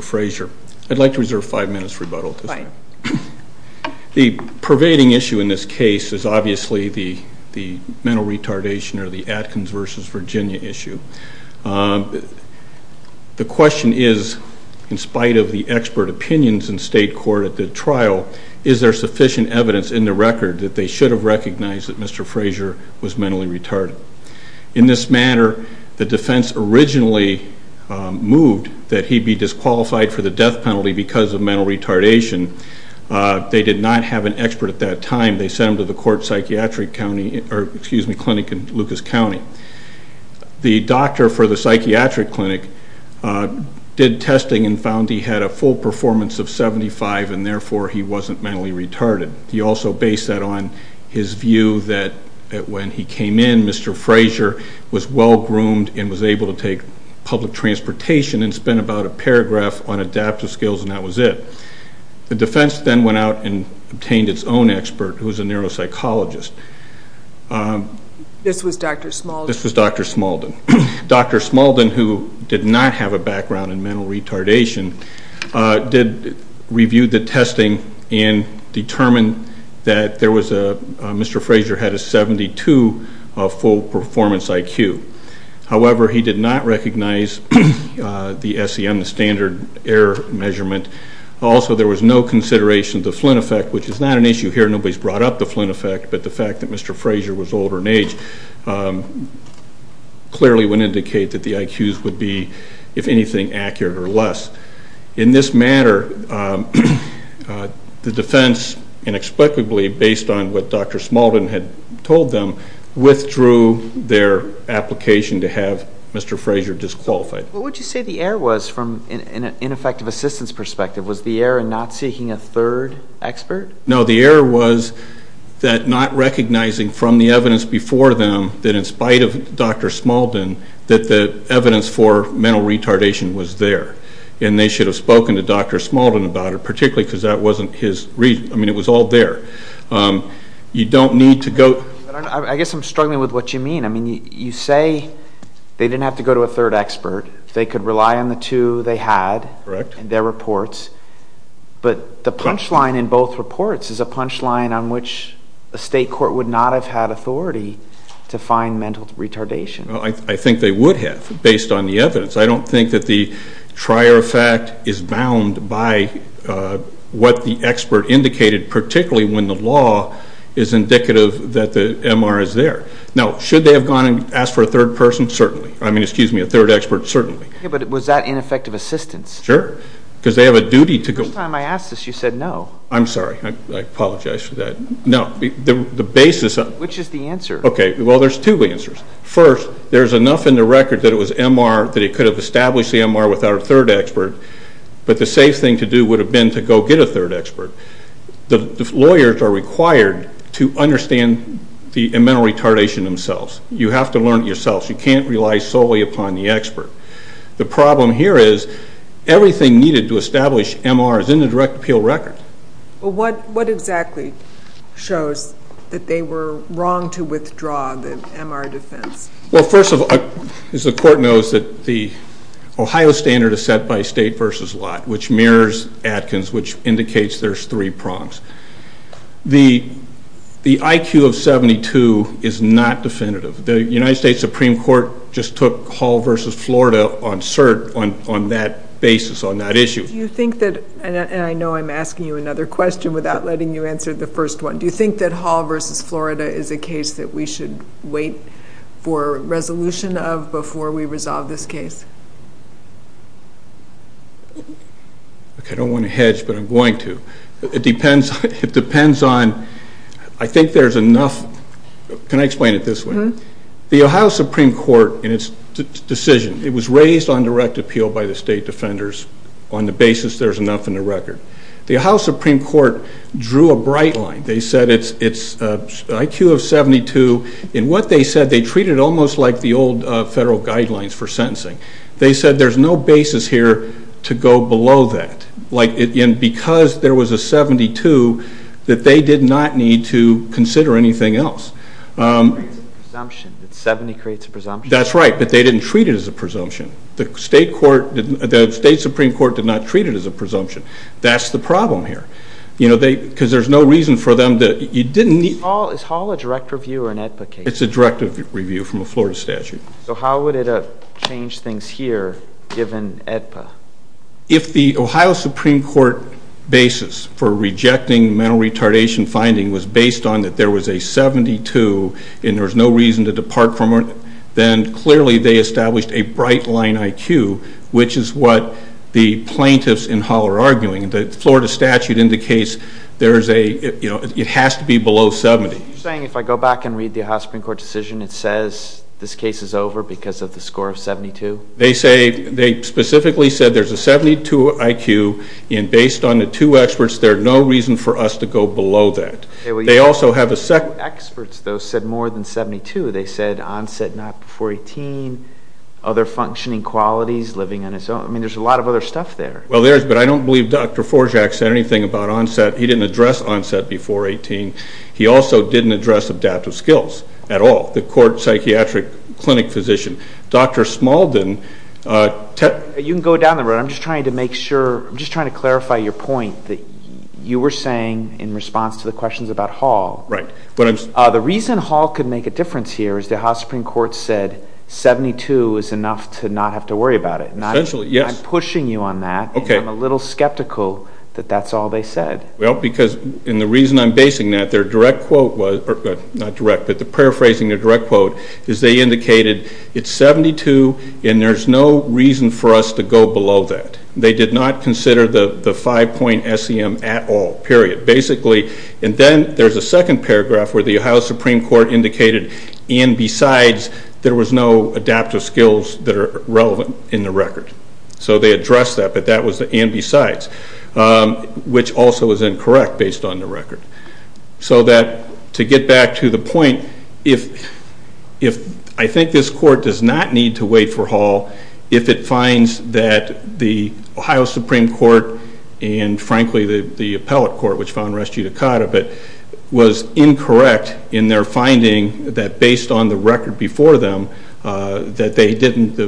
Frasier. I'd like to reserve five minutes for rebuttal. The pervading issue in this case is obviously the mental retardation or the Atkins v. Virginia issue. The question is, in spite of the expert opinions in state court at the trial, is there sufficient evidence in the record that they should have recognized that Mr. Frasier was mentally retarded? In this matter, the defense originally moved that he be disqualified for the death penalty because of mental retardation. They did not have an expert at that time. They sent him to the court psychiatric clinic in Lucas County. The doctor for the psychiatric clinic did testing and found he had a full performance of 75 and therefore he wasn't mentally retarded. He also based that on his view that when he came in, Mr. Frasier was well-groomed and was able to take public transportation and spent about a paragraph on adaptive skills and that was it. The defense then went out and obtained its own expert who was a neuropsychologist. This was Dr. Smalden. Dr. Smalden, who did not have a background in mental retardation, reviewed the testing and determined that Mr. Frasier had a 72 full performance IQ. However, he did not recognize the SEM, the standard error measurement. Also, there was no consideration of the Flynn effect, which is not an issue here. Nobody has brought up the Flynn effect, but the fact that Mr. Frasier was older in age clearly would indicate that the IQs would be, if anything, accurate or less. In this matter, the defense, inexplicably based on what Dr. Smalden had told them, withdrew their application to have Mr. Frasier disqualified. What would you say the error was from an ineffective assistance perspective? Was the error in not seeking a third expert? No, the error was that not recognizing from the evidence before them that in spite of Dr. Smalden, that the evidence for mental retardation was there. And they should have spoken to Dr. Smalden about it, particularly because that wasn't his reason. I mean, it was all there. You don't need to go... I guess I'm struggling with what you mean. I mean, you say they didn't have to go to a third expert. They could rely on the two they had in their reports. But the punchline in both reports is a punchline on which a state court would not have had authority to find mental retardation. I think they would have, based on the evidence. I don't think that the trier of fact is bound by what the expert indicated, particularly when the law is indicative that the MR is there. Now, should they have gone and asked for a third person? Certainly. I mean, excuse me, a third expert, certainly. Yeah, but was that ineffective assistance? Sure. Because they have a duty to go... The first time I asked this, you said no. I'm sorry. I apologize for that. No. The basis... Which is the answer? Okay. Well, there's two answers. First, there's enough in the record that it was MR that it could have established the MR without a third expert, but the safe thing to do would have been to go get a third expert. The lawyers are required to understand the mental retardation themselves. You have to learn it yourselves. You can't rely solely upon the expert. The problem here is everything needed to establish MR is in the direct appeal record. Well, what exactly shows that they were wrong to withdraw the MR defense? Well, first of all, as the court knows, the Ohio standard is set by state versus lot, which mirrors Atkins, which indicates there's three prongs. The IQ of 72 is not definitive. The United States Supreme Court just took Hall versus Florida on cert on that basis, on that issue. Do you think that... And I know I'm asking you another question without letting you answer the first one. Do you think that Hall versus Florida is a case that we should wait for resolution of before we resolve this case? I don't want to hedge, but I'm going to. It depends on... I think there's enough... Can I explain it this way? The Ohio Supreme Court, in its decision, it was raised on direct appeal by the state defenders on the basis there's enough in the record. The Ohio Supreme Court drew a bright line. They said it's IQ of 72. In what they said, they treated it almost like the old federal guidelines for sentencing. They said there's no basis here to go below that. Because there was a 72, that they did not need to consider anything else. It creates a presumption. 70 creates a presumption. That's right, but they didn't treat it as a presumption. The state Supreme Court did not treat it as a presumption. That's the problem here. Because there's no reason for them to... Is Hall a direct review or an AEDPA case? It's a direct review from a Florida statute. So how would it change things here, given AEDPA? If the Ohio Supreme Court basis for rejecting mental retardation finding was based on that there was a 72 and there was no reason to depart from it, then clearly they established a bright line IQ, which is what the plaintiffs in Hall are arguing. The Florida statute indicates it has to be below 70. Are you saying if I go back and read the Ohio Supreme Court decision, it says this case is over because of the score of 72? They specifically said there's a 72 IQ, and based on the two experts, there's no reason for us to go below that. The two experts, though, said more than 72. They said onset not before 18, other functioning qualities, living on his own. I mean, there's a lot of other stuff there. Well, there is, but I don't believe Dr. Forjak said anything about onset. He didn't address onset before 18. He also didn't address adaptive skills at all. The court psychiatric clinic physician. Dr. Smalden. You can go down the road. I'm just trying to make sure. I'm just trying to clarify your point that you were saying in response to the questions about Hall. Right. The reason Hall could make a difference here is the Ohio Supreme Court said 72 is enough to not have to worry about it. Essentially, yes. I'm pushing you on that. Okay. I'm a little skeptical that that's all they said. Well, because, and the reason I'm basing that, their direct quote was, not direct, but the paraphrasing, their direct quote is they indicated it's 72 and there's no reason for us to go below that. They did not consider the five-point SEM at all, period. Basically, and then there's a second paragraph where the Ohio Supreme Court indicated and besides, there was no adaptive skills that are relevant in the record. So they addressed that, but that was the and besides, which also is incorrect based on the record. So that to get back to the point, if I think this court does not need to wait for Hall, if it finds that the Ohio Supreme Court and, frankly, the appellate court, which found res judicata, but was incorrect in their finding that based on the record before them, that they didn't,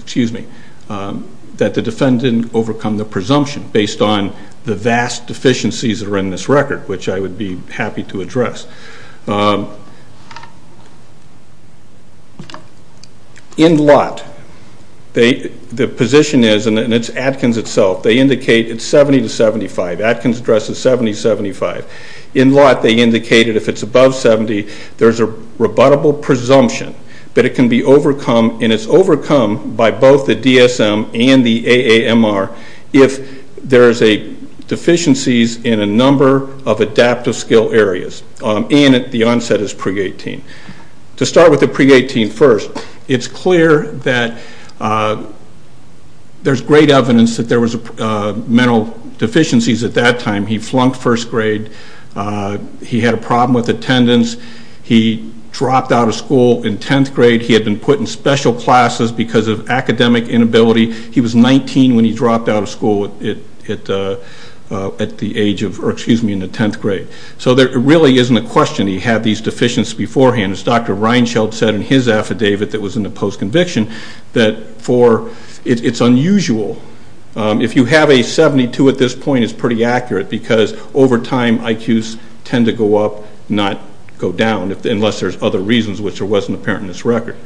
excuse me, that the defendant didn't overcome the presumption based on the vast deficiencies that are in this record, which I would be happy to address. In Lott, the position is, and it's Atkins itself, they indicate it's 70 to 75. Atkins addresses 70 to 75. In Lott, they indicated if it's above 70, there's a rebuttable presumption that it can be overcome and it's overcome by both the DSM and the AAMR if there's deficiencies in a number of adaptive skill areas and the onset is pre-18. To start with the pre-18 first, it's clear that there's great evidence that there was mental deficiencies at that time. He flunked first grade. He had a problem with attendance. He dropped out of school in 10th grade. He had been put in special classes because of academic inability. He was 19 when he dropped out of school at the age of, or excuse me, in the 10th grade. So there really isn't a question he had these deficiencies beforehand. As Dr. Reinschild said in his affidavit that was in the post-conviction, that for, it's unusual. If you have a 72 at this point, it's pretty accurate because over time IQs tend to go up, not go down, unless there's other reasons, which wasn't apparent in this record.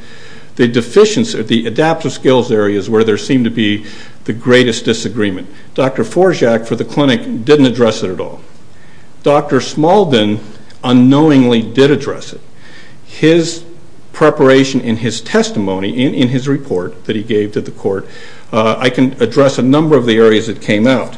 The deficiencies, the adaptive skills areas where there seemed to be the greatest disagreement. Dr. Forzak for the clinic didn't address it at all. Dr. Smalden unknowingly did address it. His preparation in his testimony, in his report that he gave to the court, I can address a number of the areas that came out.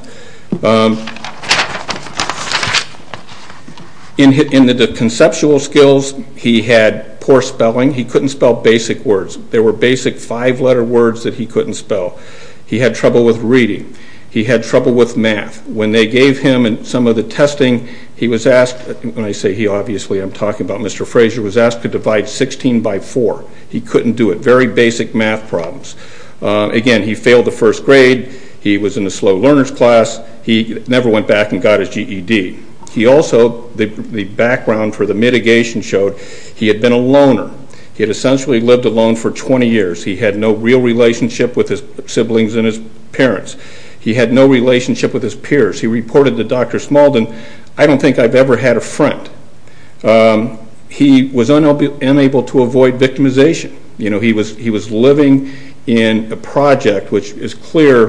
In the conceptual skills, he had poor spelling. He couldn't spell basic words. There were basic five-letter words that he couldn't spell. He had trouble with reading. He had trouble with math. When they gave him some of the testing, he was asked, when I say he, obviously I'm talking about Mr. Frazier, was asked to divide 16 by 4. He couldn't do it. Very basic math problems. Again, he failed the first grade. He was in a slow learner's class. He never went back and got his GED. He also, the background for the mitigation showed he had been a loner. He had essentially lived alone for 20 years. He had no real relationship with his siblings and his parents. He had no relationship with his peers. He reported to Dr. Smuldin, I don't think I've ever had a friend. He was unable to avoid victimization. He was living in a project, which is clear,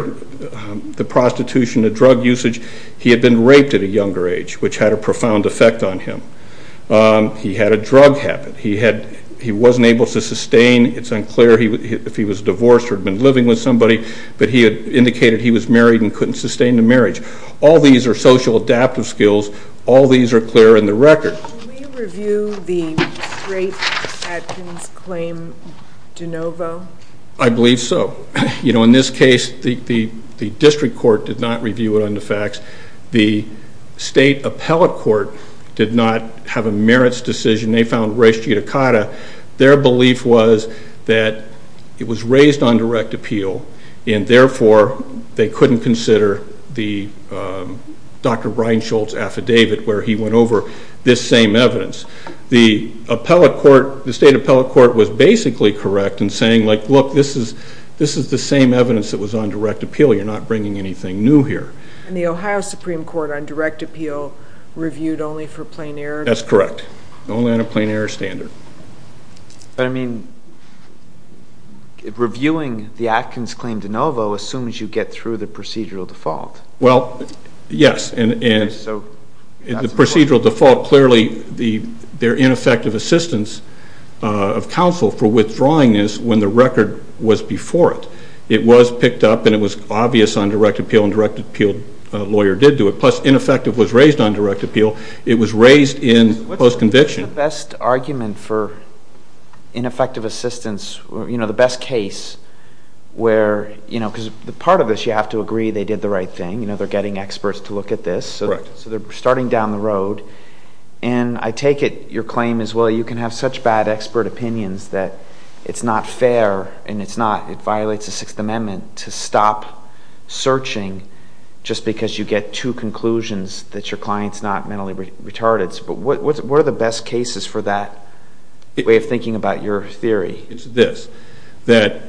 the prostitution, the drug usage. He had been raped at a younger age, which had a profound effect on him. He had a drug habit. He wasn't able to sustain. It's unclear if he was divorced or had been living with somebody, but he had indicated he was married and couldn't sustain the marriage. All these are social adaptive skills. All these are clear in the record. Did you review the rape at his claim de novo? I believe so. In this case, the district court did not review it on the facts. The state appellate court did not have a merits decision. They found res judicata. Their belief was that it was raised on direct appeal, and therefore they couldn't consider Dr. Reinshult's affidavit where he went over this same evidence. The state appellate court was basically correct in saying, look, this is the same evidence that was on direct appeal. You're not bringing anything new here. And the Ohio Supreme Court on direct appeal reviewed only for plain error? That's correct. Only on a plain error standard. But, I mean, reviewing the Atkins claim de novo assumes you get through the procedural default. Well, yes, and the procedural default, clearly their ineffective assistance of counsel for withdrawing this when the record was before it. It was picked up, and it was obvious on direct appeal, and a direct appeal lawyer did do it. Plus, ineffective was raised on direct appeal. It was raised in post-conviction. What's the best argument for ineffective assistance? You know, the best case where, you know, because part of this you have to agree they did the right thing. You know, they're getting experts to look at this. Correct. So they're starting down the road. And I take it your claim is, well, you can have such bad expert opinions that it's not fair, and it's not, it violates the Sixth Amendment to stop searching just because you get two conclusions that your client's not mentally retarded. But what are the best cases for that way of thinking about your theory? It's this. That,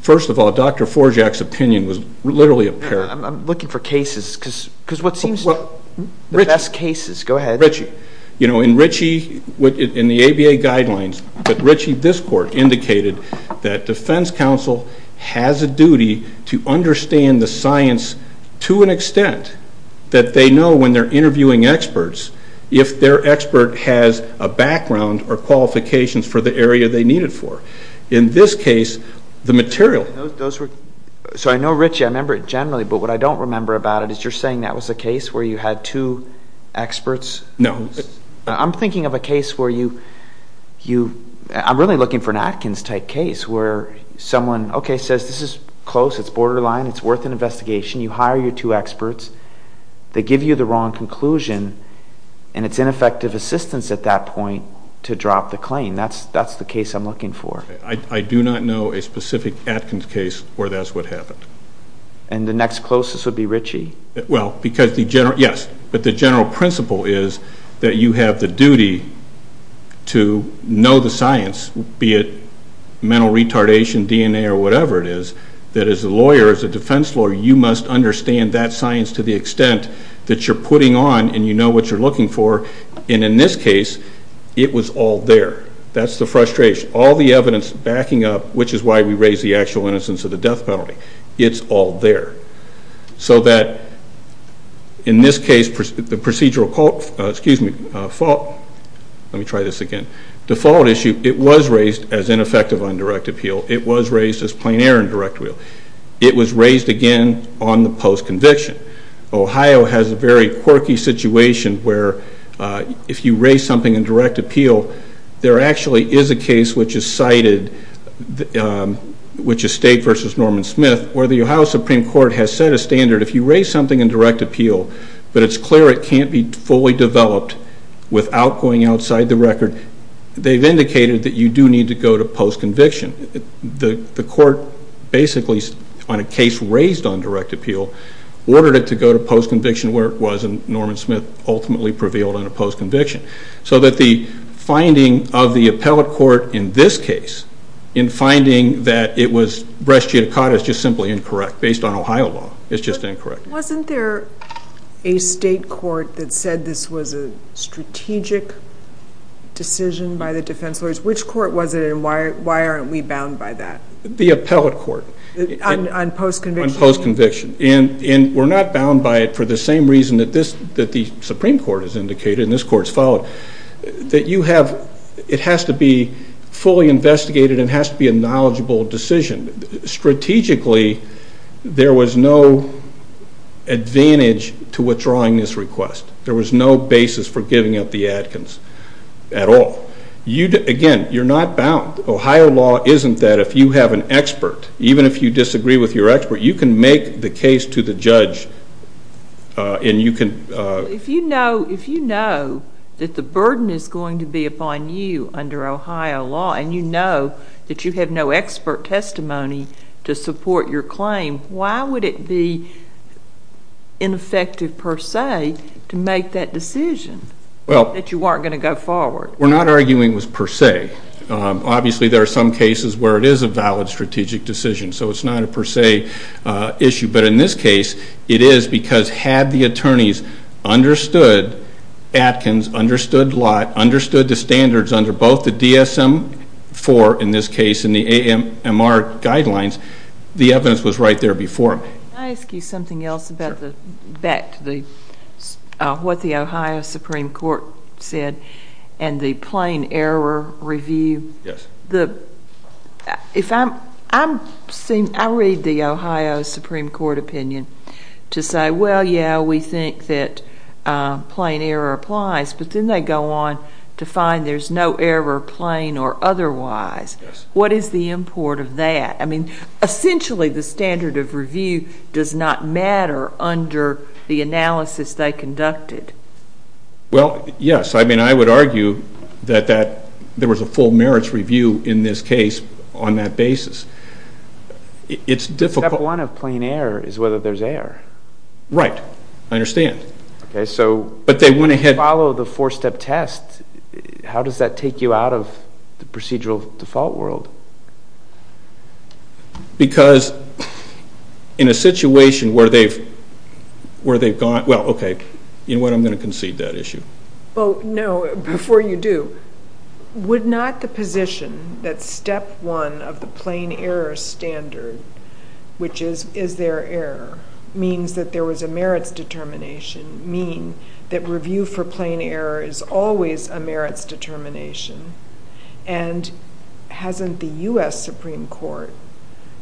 first of all, Dr. Forjak's opinion was literally apparent. I'm looking for cases because what seems to be the best cases. Go ahead. Richie. You know, in Richie, in the ABA guidelines, that Richie Discord indicated that defense counsel has a duty to understand the science to an extent that they know when they're interviewing experts, if their expert has a background or qualifications for the area they need it for. In this case, the material. So I know Richie, I remember it generally, but what I don't remember about it is you're saying that was a case where you had two experts? No. I'm thinking of a case where you, I'm really looking for an Atkins type case where someone, okay, says this is close, it's borderline, it's worth an investigation, you hire your two experts, they give you the wrong conclusion, and it's ineffective assistance at that point to drop the claim. That's the case I'm looking for. I do not know a specific Atkins case where that's what happened. And the next closest would be Richie. Well, because the general, yes, but the general principle is that you have the duty to know the science, be it mental retardation, DNA, or whatever it is, that as a lawyer, as a defense lawyer, you must understand that science to the extent that you're putting on and you know what you're looking for. And in this case, it was all there. That's the frustration. All the evidence backing up, which is why we raise the actual innocence of the death penalty, it's all there. So that in this case, the procedural fault, let me try this again, default issue, it was raised as ineffective on direct appeal. It was raised as plain error on direct appeal. It was raised again on the post-conviction. Ohio has a very quirky situation where if you raise something on direct appeal, there actually is a case which is cited, which is State v. Norman Smith, where the Ohio Supreme Court has set a standard, if you raise something on direct appeal, but it's clear it can't be fully developed without going outside the record, then they've indicated that you do need to go to post-conviction. The court basically, on a case raised on direct appeal, ordered it to go to post-conviction where it was, and Norman Smith ultimately prevailed on a post-conviction. So that the finding of the appellate court in this case, in finding that it was breast geotocata is just simply incorrect, based on Ohio law. It's just incorrect. Wasn't there a state court that said this was a strategic decision by the defense lawyers? Which court was it, and why aren't we bound by that? The appellate court. On post-conviction? On post-conviction. And we're not bound by it for the same reason that the Supreme Court has indicated, and this court's followed, that you have, it has to be fully investigated, and it has to be a knowledgeable decision. Strategically, there was no advantage to withdrawing this request. There was no basis for giving up the Adkins at all. Again, you're not bound. Ohio law isn't that. If you have an expert, even if you disagree with your expert, you can make the case to the judge, and you can. If you know that the burden is going to be upon you under Ohio law, and you know that you have no expert testimony to support your claim, why would it be ineffective per se to make that decision that you weren't going to go forward? We're not arguing it was per se. Obviously, there are some cases where it is a valid strategic decision, so it's not a per se issue. But in this case, it is because had the attorneys understood Adkins, understood Lott, understood the standards under both the DSM-IV, in this case, and the AMR guidelines, the evidence was right there before. Can I ask you something else back to what the Ohio Supreme Court said and the plain error review? Yes. I read the Ohio Supreme Court opinion to say, well, yeah, we think that plain error applies, but then they go on to find there's no error, plain or otherwise. What is the import of that? I mean, essentially, the standard of review does not matter under the analysis they conducted. Well, yes, I mean, I would argue that there was a full merits review in this case on that basis. Step one of plain error is whether there's error. Right. I understand. But they went ahead and followed the four-step test. How does that take you out of the procedural default world? Because in a situation where they've gone, well, okay, you know what, I'm going to concede that issue. Well, no, before you do, would not the position that step one of the plain error standard, which is is there error, means that there was a merits determination, mean that review for plain error is always a merits determination? And hasn't the U.S. Supreme Court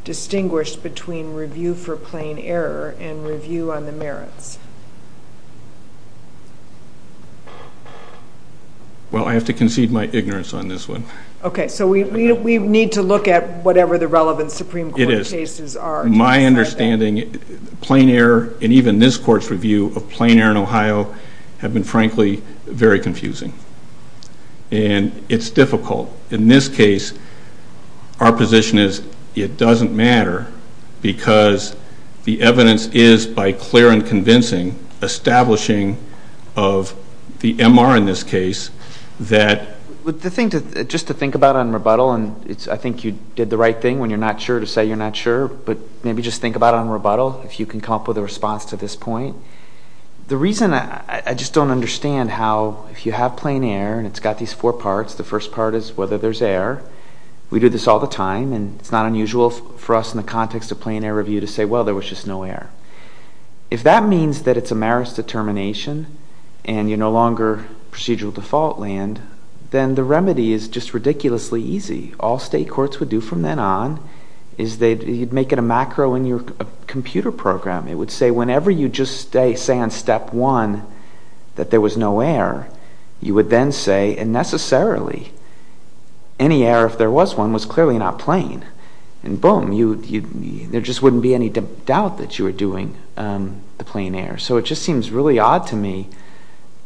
distinguished between review for plain error and review on the merits? Well, I have to concede my ignorance on this one. Okay, so we need to look at whatever the relevant Supreme Court case is. It is. My understanding, plain error and even this Court's review of plain error in Ohio have been, frankly, very confusing. And it's difficult. In this case, our position is it doesn't matter because the evidence is, by clear and convincing, establishing of the MR in this case that the thing to just to think about on rebuttal, and I think you did the right thing when you're not sure to say you're not sure, but maybe just think about it on rebuttal if you can come up with a response to this point. The reason I just don't understand how if you have plain error and it's got these four parts, the first part is whether there's error. We do this all the time, and it's not unusual for us in the context of plain error review to say, well, there was just no error. If that means that it's a merits determination and you're no longer procedural default land, then the remedy is just ridiculously easy. All state courts would do from then on is they'd make it a macro in your computer program. It would say whenever you just say on step one that there was no error, you would then say, and necessarily any error if there was one was clearly not plain. And boom, there just wouldn't be any doubt that you were doing the plain error. So it just seems really odd to me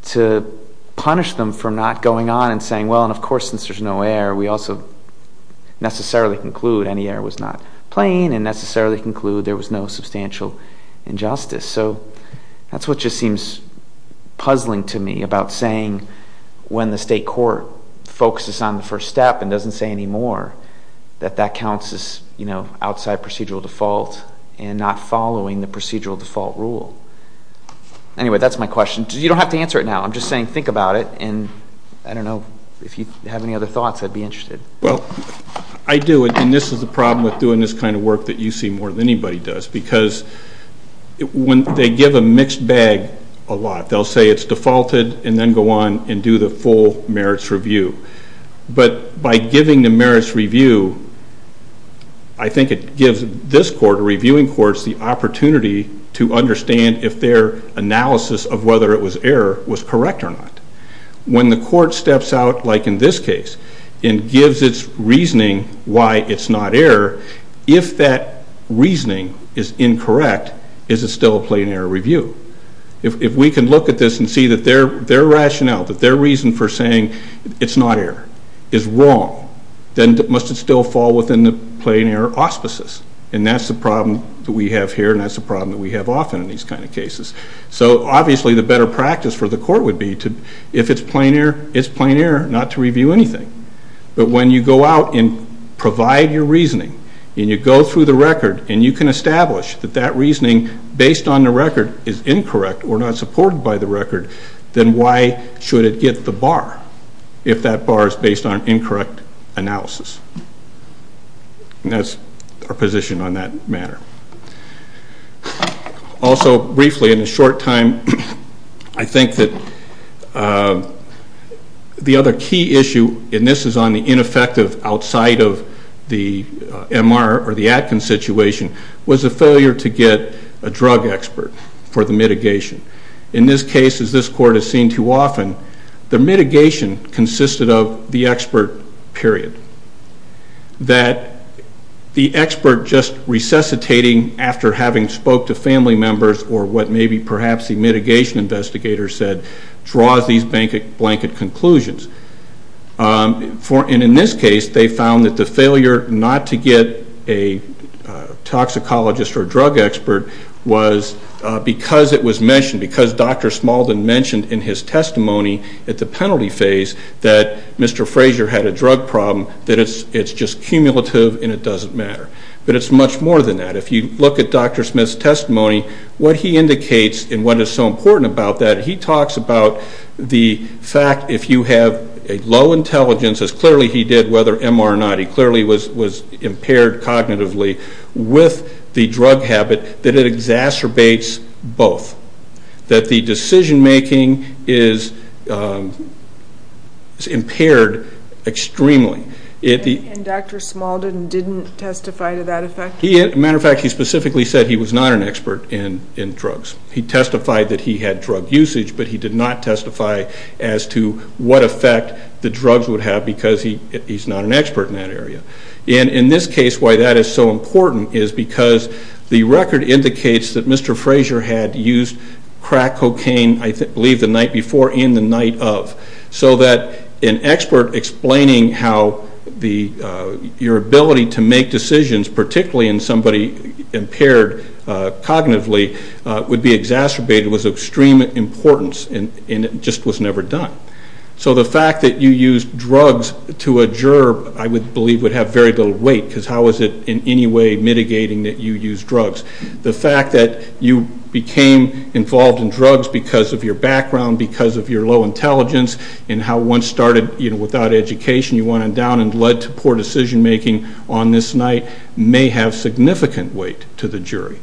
to punish them for not going on and saying, well, and of course, since there's no error, we also necessarily conclude any error was not plain and necessarily conclude there was no substantial injustice. So that's what just seems puzzling to me about saying when the state court focuses on the first step and doesn't say anymore that that counts as, you know, outside procedural default and not following the procedural default rule. Anyway, that's my question. You don't have to answer it now. I'm just saying think about it, and I don't know if you have any other thoughts I'd be interested. Well, I do, and this is the problem with doing this kind of work that you see more than anybody does because when they give a mixed bag a lot, they'll say it's defaulted and then go on and do the full merits review. But by giving the merits review, I think it gives this court, reviewing courts, the opportunity to understand if their analysis of whether it was error was correct or not. When the court steps out, like in this case, and gives its reasoning why it's not error, if that reasoning is incorrect, is it still a plain error review? If we can look at this and see that their rationale, that their reason for saying it's not error is wrong, then must it still fall within the plain error auspices? And that's the problem that we have here, and that's the problem that we have often in these kind of cases. So obviously the better practice for the court would be if it's plain error, it's plain error not to review anything. But when you go out and provide your reasoning, and you go through the record, and you can establish that that reasoning based on the record is incorrect or not supported by the record, then why should it get the bar if that bar is based on incorrect analysis? And that's our position on that matter. Also, briefly, in a short time, I think that the other key issue, and this is on the ineffective outside of the MR or the Atkins situation, was the failure to get a drug expert for the mitigation. In this case, as this court has seen too often, the mitigation consisted of the expert, period. That the expert just resuscitating after having spoke to family members or what maybe perhaps the mitigation investigator said draws these blanket conclusions. And in this case, they found that the failure not to get a toxicologist or a drug expert was because it was mentioned, because Dr. Smalden mentioned in his testimony at the penalty phase that Mr. Frazier had a drug problem, that it's just cumulative and it doesn't matter. But it's much more than that. If you look at Dr. Smith's testimony, what he indicates and what is so important about that, he talks about the fact if you have a low intelligence, as clearly he did whether MR or not, he clearly was impaired cognitively with the drug habit, that it exacerbates both. That the decision making is impaired extremely. And Dr. Smalden didn't testify to that effect? As a matter of fact, he specifically said he was not an expert in drugs. He testified that he had drug usage, but he did not testify as to what effect the drugs would have because he's not an expert in that area. And in this case, why that is so important is because the record indicates that Mr. Frazier had used crack cocaine, I believe the night before and the night of. So that an expert explaining how your ability to make decisions, particularly in somebody impaired cognitively, would be exacerbated was of extreme importance and it just was never done. So the fact that you used drugs to a gerb, I believe, would have very little weight because how is it in any way mitigating that you use drugs? The fact that you became involved in drugs because of your background, because of your low intelligence, and how one started without education, you went on down and led to poor decision making on this night, may have significant weight to the jury.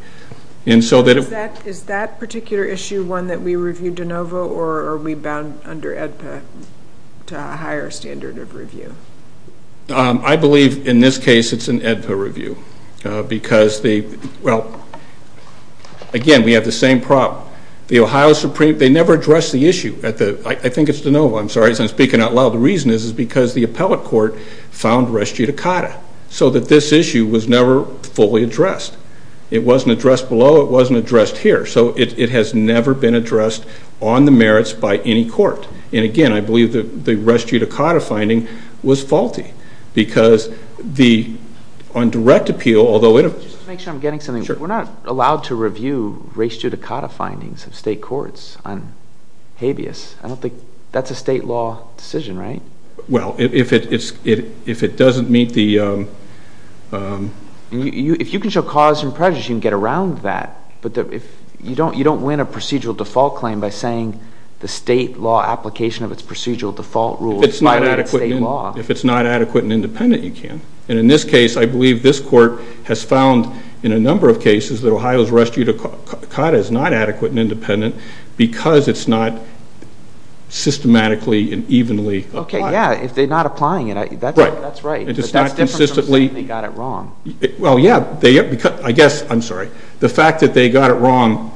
Is that particular issue one that we reviewed de novo or are we bound under AEDPA to a higher standard of review? I believe in this case it's an AEDPA review because, again, we have the same problem. The Ohio Supreme Court never addressed the issue. I think it's de novo, I'm sorry, I'm speaking out loud. The reason is because the appellate court found res judicata, so that this issue was never fully addressed. It wasn't addressed below, it wasn't addressed here, so it has never been addressed on the merits by any court. And, again, I believe the res judicata finding was faulty because on direct appeal, Just to make sure I'm getting something, we're not allowed to review res judicata findings of state courts on habeas. I don't think that's a state law decision, right? Well, if it doesn't meet the If you can show cause and prejudice, you can get around that, but you don't win a procedural default claim by saying the state law application of its procedural default rule violates state law. If it's not adequate and independent, you can. And in this case, I believe this court has found in a number of cases that Ohio's res judicata is not adequate and independent because it's not systematically and evenly applied. Okay, yeah, if they're not applying it, that's right, but that's different from saying they got it wrong. Well, yeah, I guess, I'm sorry, the fact that they got it wrong,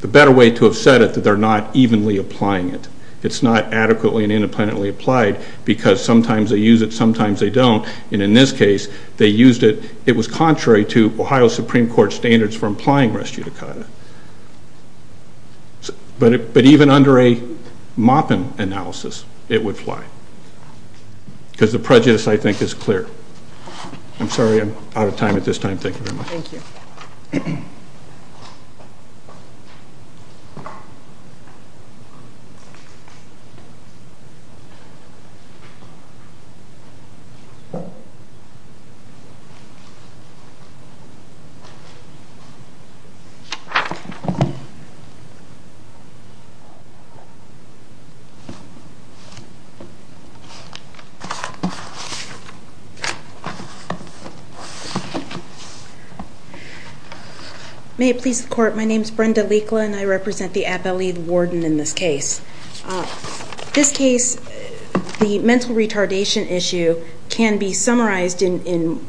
the better way to have said it, that they're not evenly applying it. It's not adequately and independently applied because sometimes they use it, sometimes they don't, and in this case, they used it. It was contrary to Ohio Supreme Court standards for applying res judicata. But even under a Moppin analysis, it would fly because the prejudice, I think, is clear. I'm sorry, I'm out of time at this time. Thank you very much. Thank you. May it please the court. My name is Brenda Leakland. I represent the Appellate Warden in this case. This case, the mental retardation issue can be summarized in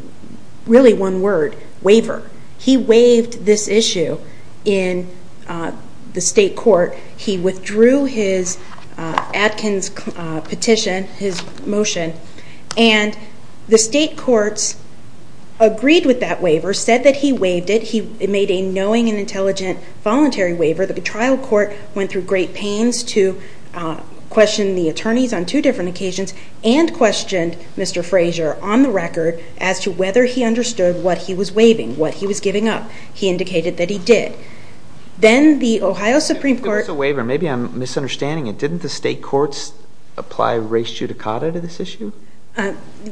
really one word, waiver. He waived this issue in the state court. He withdrew his Atkins petition, his motion, and the state courts agreed with that waiver, said that he waived it. He made a knowing and intelligent voluntary waiver. The trial court went through great pains to question the attorneys on two different occasions and questioned Mr. Frazier on the record as to whether he understood what he was waiving, what he was giving up. He indicated that he did. Then the Ohio Supreme Court… Maybe it's a waiver, maybe I'm misunderstanding it.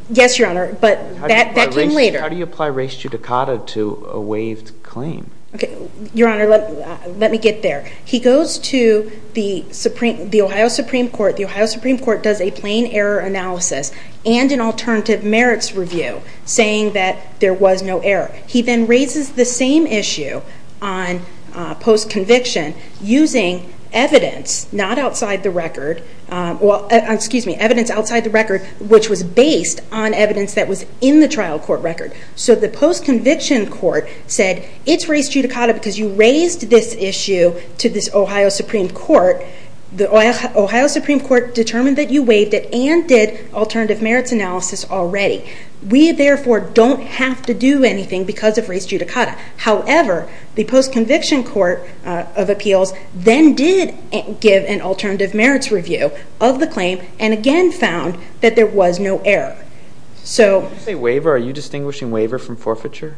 Yes, Your Honor, but that came later. How do you apply res judicata to a waived claim? Your Honor, let me get there. He goes to the Ohio Supreme Court. The Ohio Supreme Court does a plain error analysis and an alternative merits review saying that there was no error. He then raises the same issue on post-conviction using evidence not outside the record, excuse me, evidence outside the record which was based on evidence that was in the trial court record. The post-conviction court said, it's res judicata because you raised this issue to this Ohio Supreme Court. The Ohio Supreme Court determined that you waived it and did alternative merits analysis already. We, therefore, don't have to do anything because of res judicata. However, the post-conviction court of appeals then did give an alternative merits review of the claim and again found that there was no error. Did you say waiver? Are you distinguishing waiver from forfeiture?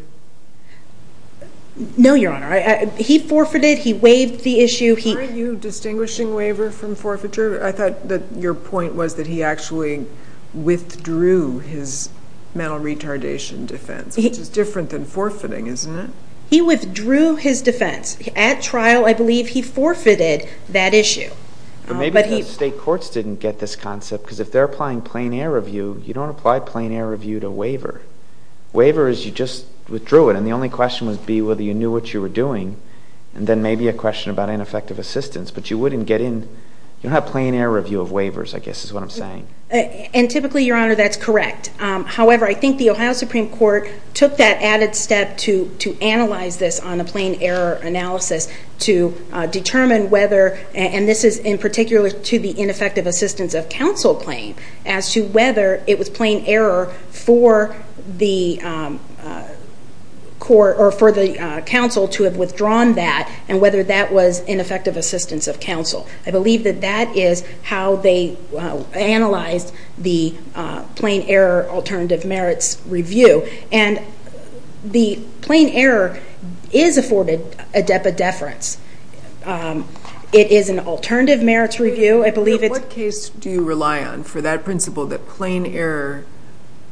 No, Your Honor. He forfeited. He waived the issue. Are you distinguishing waiver from forfeiture? I thought that your point was that he actually withdrew his mental retardation defense which is different than forfeiting, isn't it? He withdrew his defense. At trial, I believe he forfeited that issue. Maybe the state courts didn't get this concept because if they're applying plain error review, you don't apply plain error review to waiver. Waiver is you just withdrew it and the only question would be whether you knew what you were doing and then maybe a question about ineffective assistance but you wouldn't get in. You don't have plain error review of waivers, I guess is what I'm saying. Typically, Your Honor, that's correct. However, I think the Ohio Supreme Court took that added step to analyze this on a plain error analysis to determine whether, and this is in particular to the ineffective assistance of counsel claim, as to whether it was plain error for the counsel to have withdrawn that and whether that was ineffective assistance of counsel. I believe that that is how they analyzed the plain error alternative merits review and the plain error is afforded a DEPA deference. It is an alternative merits review. In what case do you rely on for that principle that plain error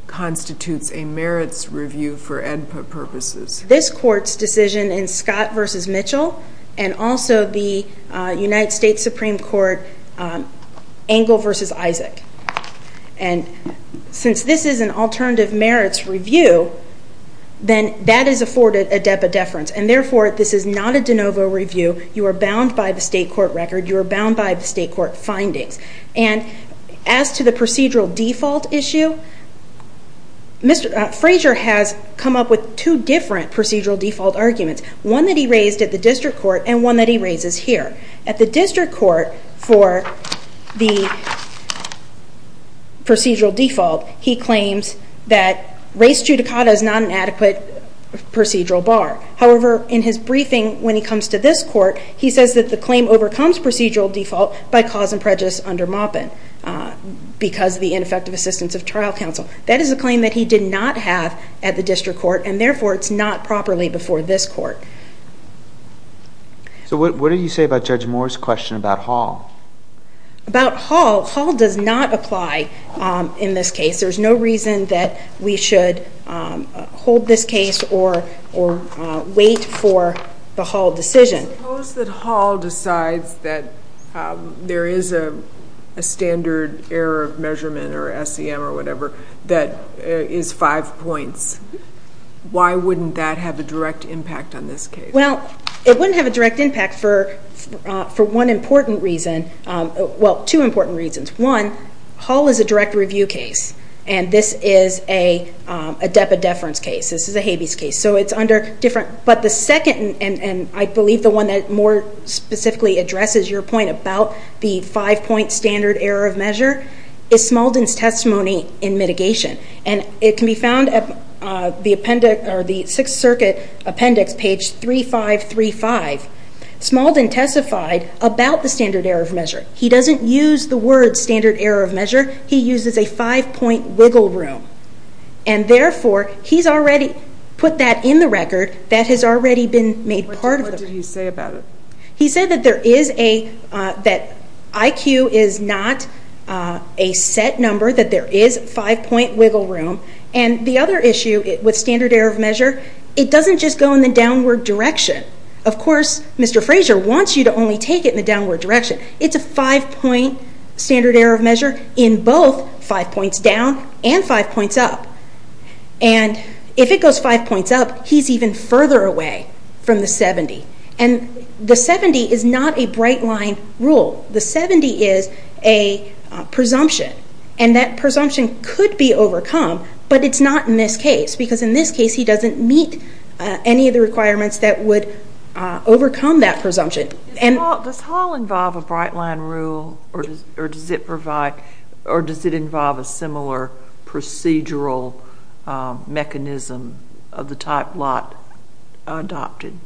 constitutes a merits review for EDPA purposes? This court's decision in Scott v. Mitchell and also the United States Supreme Court Engle v. Isaac. Since this is an alternative merits review, then that is afforded a DEPA deference and therefore this is not a de novo review. You are bound by the state court record. You are bound by the state court findings. As to the procedural default issue, Frazier has come up with two different procedural default arguments. One that he raised at the district court and one that he raises here. At the district court for the procedural default, he claims that race judicata is not an adequate procedural bar. However, in his briefing when he comes to this court, he says that the claim overcomes procedural default by cause and prejudice under Maupin because of the ineffective assistance of trial counsel. That is a claim that he did not have at the district court and therefore it's not properly before this court. So what do you say about Judge Moore's question about Hall? About Hall, Hall does not apply in this case. There's no reason that we should hold this case or wait for the Hall decision. Suppose that Hall decides that there is a standard error of measurement or SEM or whatever that is five points. Why wouldn't that have a direct impact on this case? Well, it wouldn't have a direct impact for one important reason. Well, two important reasons. One, Hall is a direct review case and this is a depa deference case. This is a habeas case. So it's under different, but the second, and I believe the one that more specifically addresses your point about the five-point standard error of measure is Smaldin's testimony in mitigation. And it can be found at the Sixth Circuit Appendix, page 3535. Smaldin testified about the standard error of measure. He doesn't use the word standard error of measure. He uses a five-point wiggle room. And therefore, he's already put that in the record. That has already been made part of the record. What did he say about it? He said that IQ is not a set number, that there is a five-point wiggle room. And the other issue with standard error of measure, it doesn't just go in the downward direction. Of course, Mr. Fraser wants you to only take it in the downward direction. It's a five-point standard error of measure in both five points down and five points up. And if it goes five points up, he's even further away from the 70. And the 70 is not a bright-line rule. The 70 is a presumption. And that presumption could be overcome, but it's not in this case. Because in this case, he doesn't meet any of the requirements that would overcome that presumption. Does Hall involve a bright-line rule, or does it involve a similar procedural mechanism of the type Lott adopted?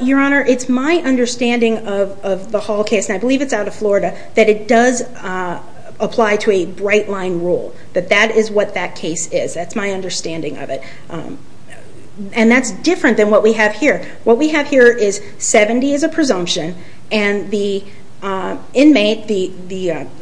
Your Honor, it's my understanding of the Hall case, and I believe it's out of Florida, that it does apply to a bright-line rule, that that is what that case is. That's my understanding of it. And that's different than what we have here. What we have here is 70 is a presumption, and the inmate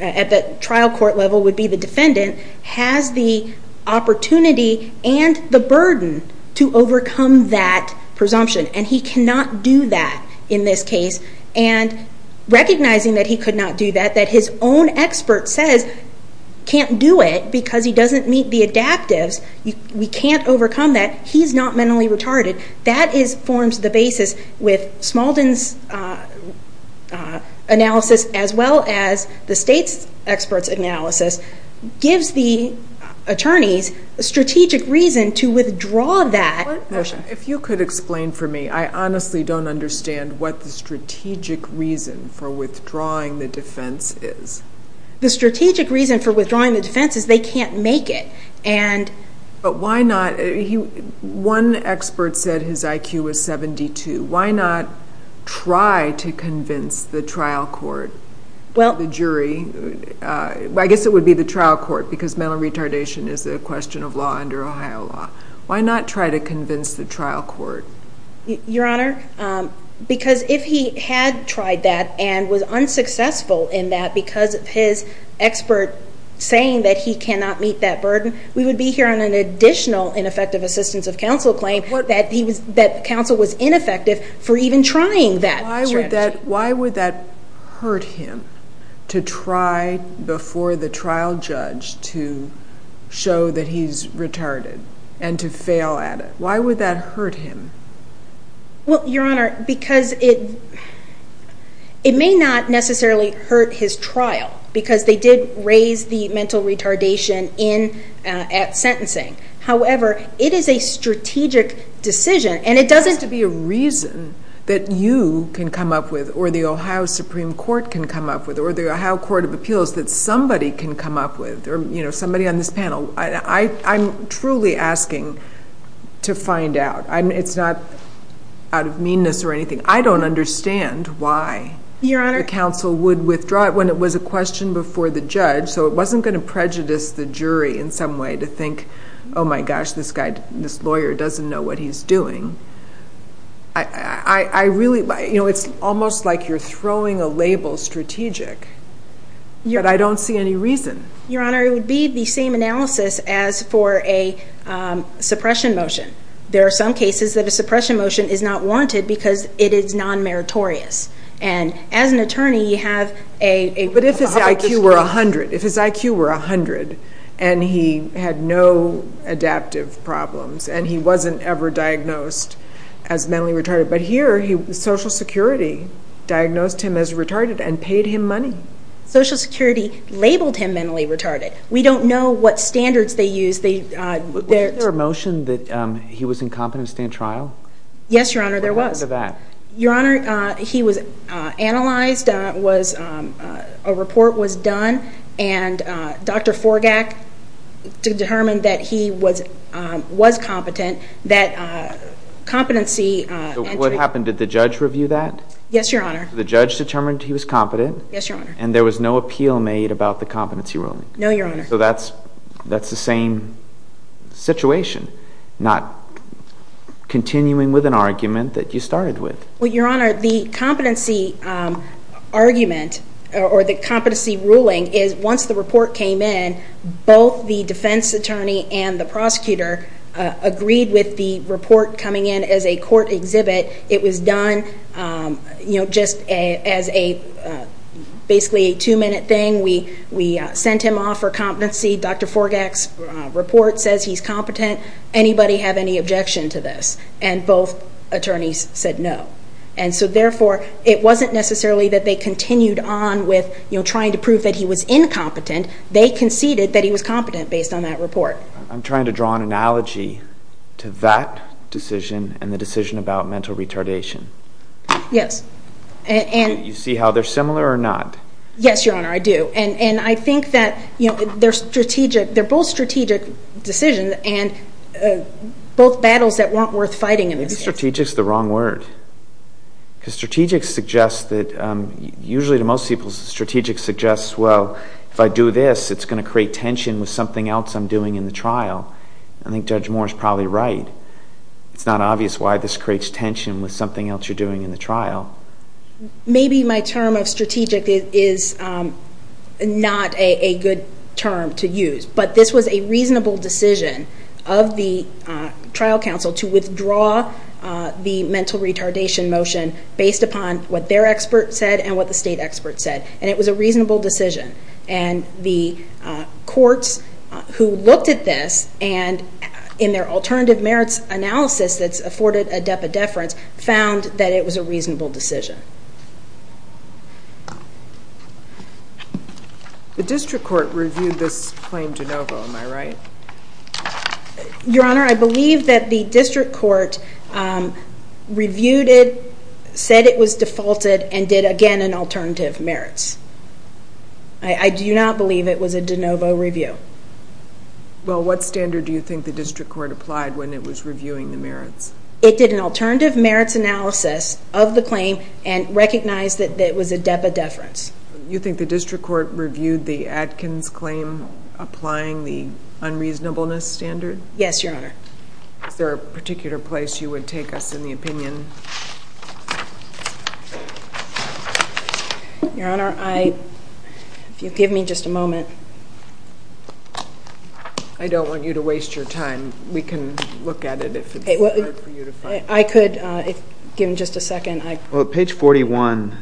at the trial court level would be the defendant, has the opportunity and the burden to overcome that presumption. And he cannot do that in this case. And recognizing that he could not do that, that his own expert says, can't do it because he doesn't meet the adaptives, we can't overcome that, he's not mentally retarded. That forms the basis with Smaldin's analysis, as well as the State's expert's analysis, gives the attorneys strategic reason to withdraw that motion. If you could explain for me, I honestly don't understand what the strategic reason for withdrawing the defense is. The strategic reason for withdrawing the defense is they can't make it. But why not? One expert said his IQ was 72. Why not try to convince the trial court, the jury? I guess it would be the trial court, because mental retardation is a question of law under Ohio law. Why not try to convince the trial court? Your Honor, because if he had tried that and was unsuccessful in that, because of his expert saying that he cannot meet that burden, we would be hearing an additional ineffective assistance of counsel claim that counsel was ineffective for even trying that strategy. Why would that hurt him to try before the trial judge to show that he's retarded and to fail at it? Why would that hurt him? Your Honor, because it may not necessarily hurt his trial, because they did raise the mental retardation at sentencing. However, it is a strategic decision. There has to be a reason that you can come up with or the Ohio Supreme Court can come up with or the Ohio Court of Appeals that somebody can come up with, somebody on this panel. I'm truly asking to find out. It's not out of meanness or anything. I don't understand why the counsel would withdraw it when it was a question before the judge, so it wasn't going to prejudice the jury in some way to think, oh, my gosh, this lawyer doesn't know what he's doing. It's almost like you're throwing a label strategic, but I don't see any reason. Your Honor, it would be the same analysis as for a suppression motion. There are some cases that a suppression motion is not wanted because it is non-meritorious. And as an attorney, you have a public discretion. But if his IQ were 100 and he had no adaptive problems and he wasn't ever diagnosed as mentally retarded, but here Social Security diagnosed him as retarded and paid him money. Social Security labeled him mentally retarded. We don't know what standards they use. Was there a motion that he was incompetent to stand trial? Yes, Your Honor, there was. What happened to that? Your Honor, he was analyzed, a report was done, and Dr. Forgak determined that he was competent. So what happened? Did the judge review that? Yes, Your Honor. The judge determined he was competent? Yes, Your Honor. And there was no appeal made about the competency ruling? No, Your Honor. So that's the same situation, not continuing with an argument that you started with. Well, Your Honor, the competency argument or the competency ruling is once the report came in, both the defense attorney and the prosecutor agreed with the report coming in as a court exhibit. It was done just as basically a two-minute thing. We sent him off for competency. Dr. Forgak's report says he's competent. Anybody have any objection to this? And both attorneys said no. And so therefore, it wasn't necessarily that they continued on with trying to prove that he was incompetent. They conceded that he was competent based on that report. I'm trying to draw an analogy to that decision and the decision about mental retardation. Yes. Do you see how they're similar or not? Yes, Your Honor, I do. And I think that they're both strategic decisions and both battles that weren't worth fighting in this case. I think strategic is the wrong word. Because strategic suggests that usually to most people, strategic suggests, well, if I do this, it's going to create tension with something else I'm doing in the trial. I think Judge Moore is probably right. with something else you're doing in the trial. Maybe my term of strategic is not a good term to use. But this was a reasonable decision of the trial counsel to withdraw the mental retardation motion based upon what their expert said and what the state expert said. And it was a reasonable decision. And the courts who looked at this and in their alternative merits analysis that's afforded a depth of deference found that it was a reasonable decision. The district court reviewed this claim de novo, am I right? Your Honor, I believe that the district court reviewed it, said it was defaulted, and did, again, an alternative merits. I do not believe it was a de novo review. Well, what standard do you think the district court applied when it was reviewing the merits? It did an alternative merits analysis of the claim and recognized that it was a depth of deference. You think the district court reviewed the Adkins claim applying the unreasonableness standard? Yes, Your Honor. Is there a particular place you would take us in the opinion? Your Honor, if you'll give me just a moment. I don't want you to waste your time. We can look at it if it's hard for you to find. I could, if given just a second. Well, at page 41,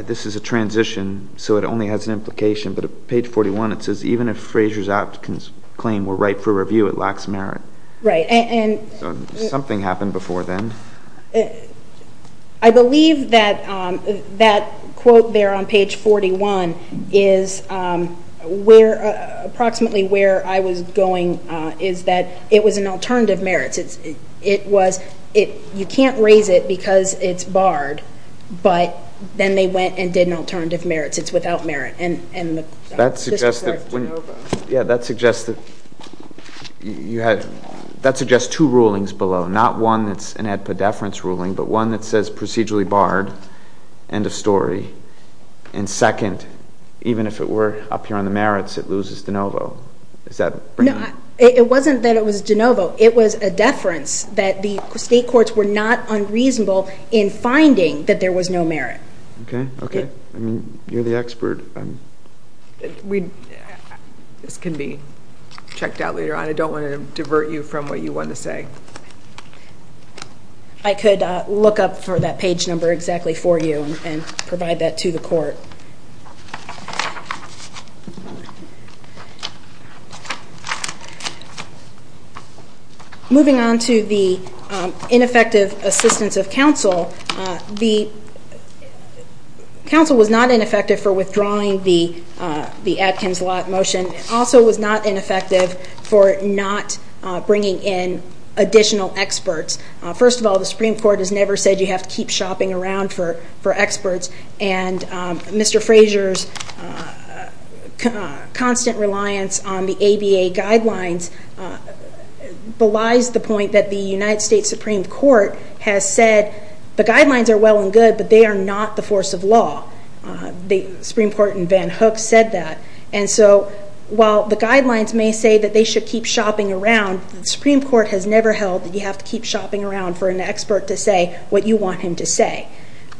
this is a transition, so it only has an implication. But at page 41, it says, even if Fraser's Adkins claim were right for review, it lacks merit. Right. Something happened before then. I believe that that quote there on page 41 is approximately where I was going, is that it was an alternative merits. You can't raise it because it's barred, but then they went and did an alternative merits. It's without merit. That suggests two rulings below, not one that's an ad pa deference ruling, but one that says procedurally barred, end of story, and second, even if it were up here on the merits, it loses de novo. It wasn't that it was de novo. It was a deference that the state courts were not unreasonable in finding that there was no merit. Okay. Okay. You're the expert. This can be checked out later on. I don't want to divert you from what you want to say. I could look up for that page number exactly for you and provide that to the court. Moving on to the ineffective assistance of counsel, the counsel was not ineffective for withdrawing the Atkins lot motion. It also was not ineffective for not bringing in additional experts. First of all, the Supreme Court has never said you have to keep shopping around for experts, and Mr. Fraser's constant reliance on the ABA guidelines belies the point that the United States Supreme Court has said the guidelines are well and good, but they are not the force of law. The Supreme Court in Van Hook said that. And so while the guidelines may say that they should keep shopping around, the Supreme Court has never held that you have to keep shopping around for an expert to say what you want him to say.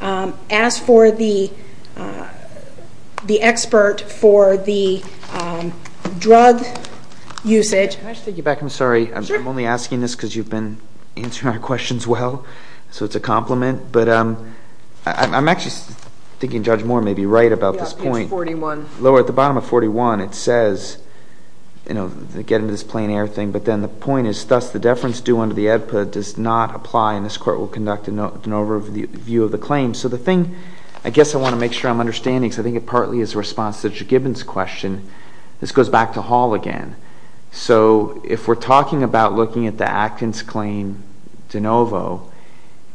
As for the expert for the drug usage... Can I just take you back? I'm sorry. I'm only asking this because you've been answering our questions well, so it's a compliment. But I'm actually thinking Judge Moore may be right about this point. Yeah, page 41. Lower at the bottom of 41, it says, you know, get into this plain air thing, but then the point is thus the deference due under the EDPA does not apply, and this court will conduct an overview of the claim. So the thing I guess I want to make sure I'm understanding, because I think it partly is a response to Judge Gibbons' question, this goes back to Hall again. So if we're talking about looking at the Atkins claim de novo,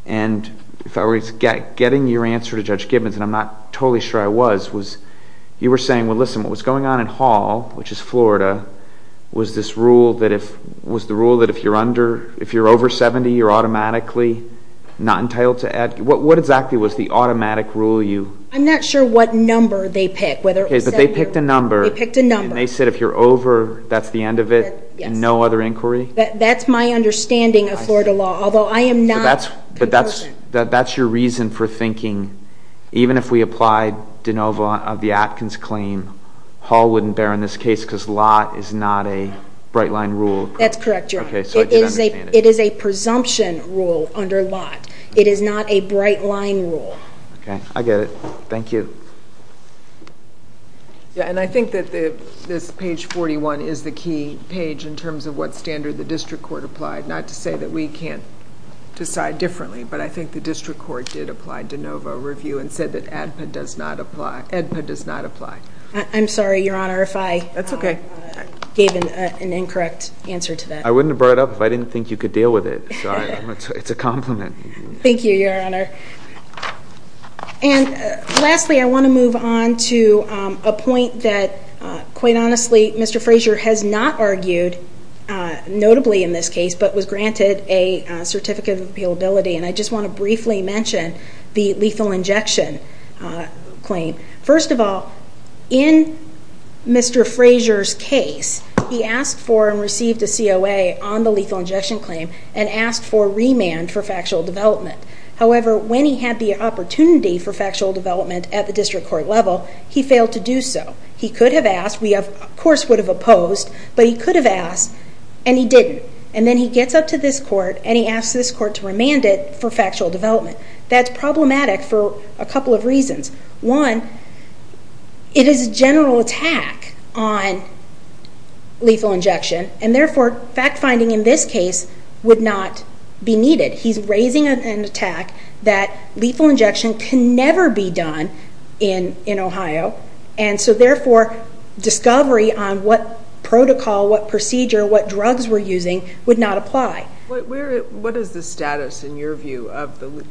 and if I were getting your answer to Judge Gibbons, and I'm not totally sure I was, was you were saying, well, listen, what was going on in Hall, which is Florida, was this rule that if you're over 70, you're automatically not entitled to Atkins? What exactly was the automatic rule you? I'm not sure what number they picked. Okay, but they picked a number. They picked a number. And they said if you're over, that's the end of it, and no other inquiry? That's my understanding of Florida law, although I am not that person. But that's your reason for thinking, even if we applied de novo of the Atkins claim, Hall wouldn't bear in this case because law is not a bright-line rule. That's correct, Your Honor. Okay, so I did understand it. It is a presumption rule under lot. It is not a bright-line rule. Okay, I get it. Thank you. Yeah, and I think that this page 41 is the key page in terms of what standard the district court applied, not to say that we can't decide differently, but I think the district court did apply de novo review and said that ADPA does not apply. I'm sorry, Your Honor, if I gave an incorrect answer to that. I wouldn't have brought it up if I didn't think you could deal with it. It's a compliment. Thank you, Your Honor. And lastly, I want to move on to a point that, quite honestly, Mr. Frazier has not argued notably in this case but was granted a certificate of appealability, and I just want to briefly mention the lethal injection claim. First of all, in Mr. Frazier's case, he asked for and received a COA on the lethal injection claim and asked for remand for factual development. However, when he had the opportunity for factual development at the district court level, he failed to do so. He could have asked. We, of course, would have opposed, but he could have asked, and he didn't. And then he gets up to this court, and he asks this court to remand it for factual development. That's problematic for a couple of reasons. One, it is a general attack on lethal injection, and therefore fact-finding in this case would not be needed. He's raising an attack that lethal injection can never be done in Ohio, and so therefore discovery on what protocol, what procedure, what drugs we're using would not apply. What is the status, in your view, of the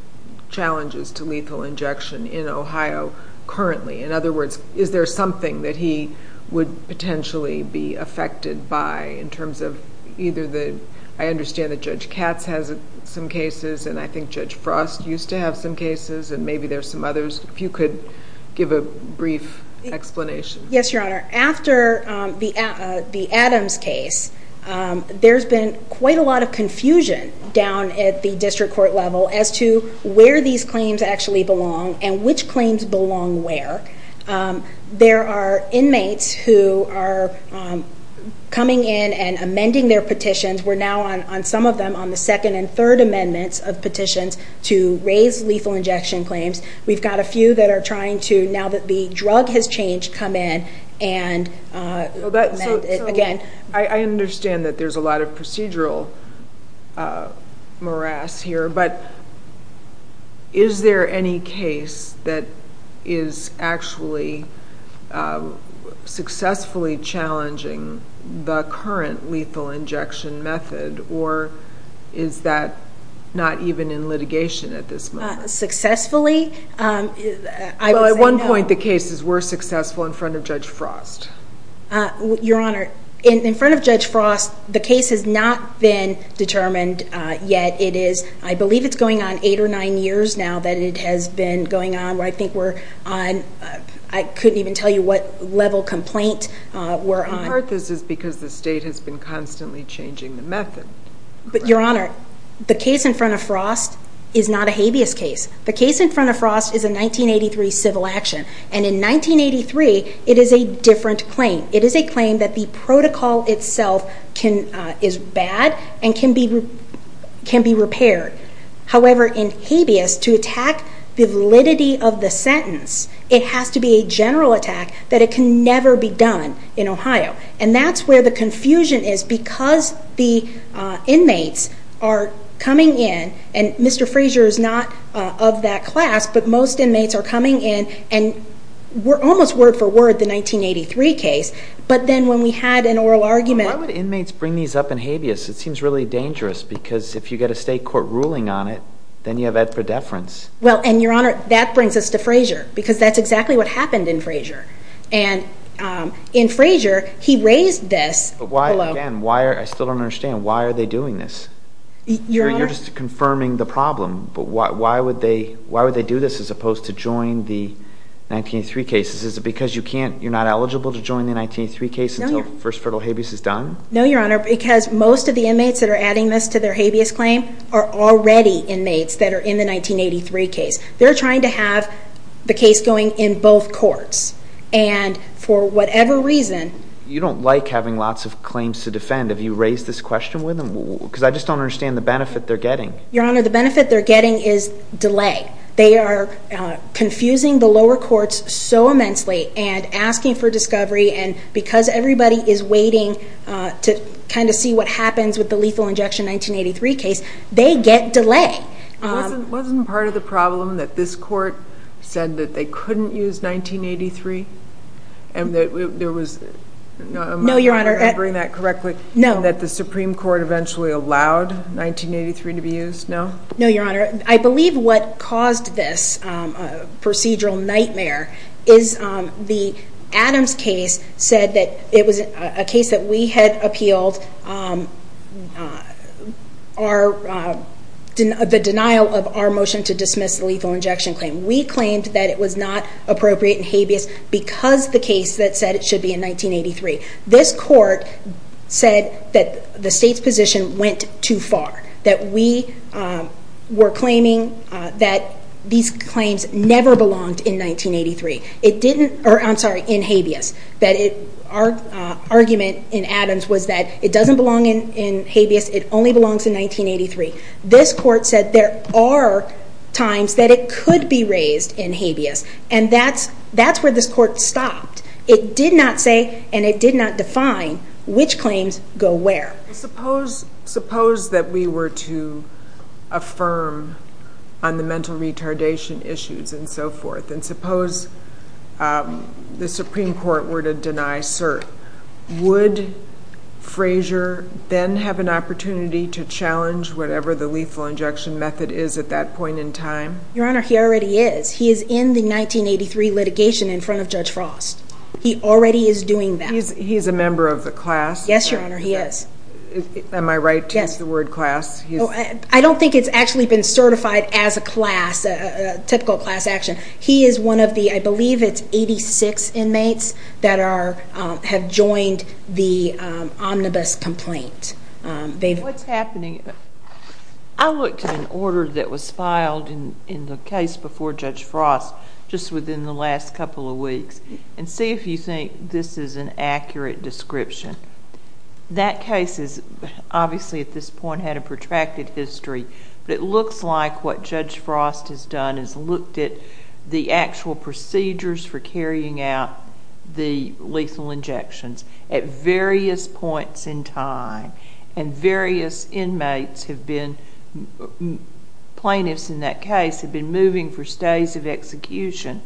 challenges to lethal injection in Ohio currently? In other words, is there something that he would potentially be affected by in terms of either the ‑‑ I understand that Judge Katz has some cases, and I think Judge Frost used to have some cases, and maybe there are some others. If you could give a brief explanation. Yes, Your Honor. After the Adams case, there's been quite a lot of confusion down at the district court level as to where these claims actually belong and which claims belong where. There are inmates who are coming in and amending their petitions. We're now on some of them on the second and third amendments of petitions to raise lethal injection claims. We've got a few that are trying to, now that the drug has changed, come in and amend it again. I understand that there's a lot of procedural morass here, but is there any case that is actually successfully challenging the current lethal injection method, or is that not even in litigation at this moment? Successfully? Well, at one point the cases were successful in front of Judge Frost. Your Honor, in front of Judge Frost, the case has not been determined yet. I believe it's going on eight or nine years now that it has been going on. I couldn't even tell you what level complaint we're on. Part of this is because the state has been constantly changing the method. But, Your Honor, the case in front of Frost is not a habeas case. The case in front of Frost is a 1983 civil action, and in 1983 it is a different claim. It is a claim that the protocol itself is bad and can be repaired. However, in habeas, to attack the validity of the sentence, it has to be a general attack that it can never be done in Ohio. And that's where the confusion is, because the inmates are coming in, and Mr. Fraser is not of that class, but most inmates are coming in, and we're almost word-for-word the 1983 case. But then when we had an oral argument... Why would inmates bring these up in habeas? It seems really dangerous, because if you get a state court ruling on it, then you have ed for deference. Well, and, Your Honor, that brings us to Fraser, because that's exactly what happened in Fraser. And in Fraser, he raised this... But why, again, I still don't understand. Why are they doing this? You're just confirming the problem. But why would they do this, as opposed to join the 1983 cases? Is it because you're not eligible to join the 1983 case until First Fertile Habeas is done? No, Your Honor, because most of the inmates that are adding this to their habeas claim are already inmates that are in the 1983 case. They're trying to have the case going in both courts. And for whatever reason... You don't like having lots of claims to defend. Have you raised this question with them? Because I just don't understand the benefit they're getting. Your Honor, the benefit they're getting is delay. They are confusing the lower courts so immensely and asking for discovery, and because everybody is waiting to kind of see what happens with the lethal injection 1983 case, they get delay. Wasn't part of the problem that this court said that they couldn't use 1983? And that there was... No, Your Honor... Am I remembering that correctly? No. And that the Supreme Court eventually allowed 1983 to be used? No? No, Your Honor. I believe what caused this procedural nightmare is the Adams case said that it was a case that we had appealed the denial of our motion to dismiss the lethal injection claim. We claimed that it was not appropriate in habeas because the case that said it should be in 1983. This court said that the state's position went too far, that we were claiming that these claims never belonged in 1983. It didn't... I'm sorry, in habeas. Our argument in Adams was that it doesn't belong in habeas. It only belongs in 1983. This court said there are times that it could be raised in habeas, and that's where this court stopped. It did not say, and it did not define, which claims go where. Suppose that we were to affirm on the mental retardation issues and so forth, and suppose the Supreme Court were to deny cert. Would Frazier then have an opportunity to challenge whatever the lethal injection method is at that point in time? Your Honor, he already is. He is in the 1983 litigation in front of Judge Frost. He already is doing that. He's a member of the class? Yes, Your Honor, he is. Am I right to use the word class? I don't think it's actually been certified as a class, a typical class action. He is one of the, I believe it's 86 inmates, that have joined the omnibus complaint. What's happening? I looked at an order that was filed in the case before Judge Frost just within the last couple of weeks, and see if you think this is an accurate description. That case obviously at this point had a protracted history, but it looks like what Judge Frost has done is looked at the actual procedures for carrying out the lethal injections at various points in time, and various inmates have been, plaintiffs in that case, have been moving for stays of execution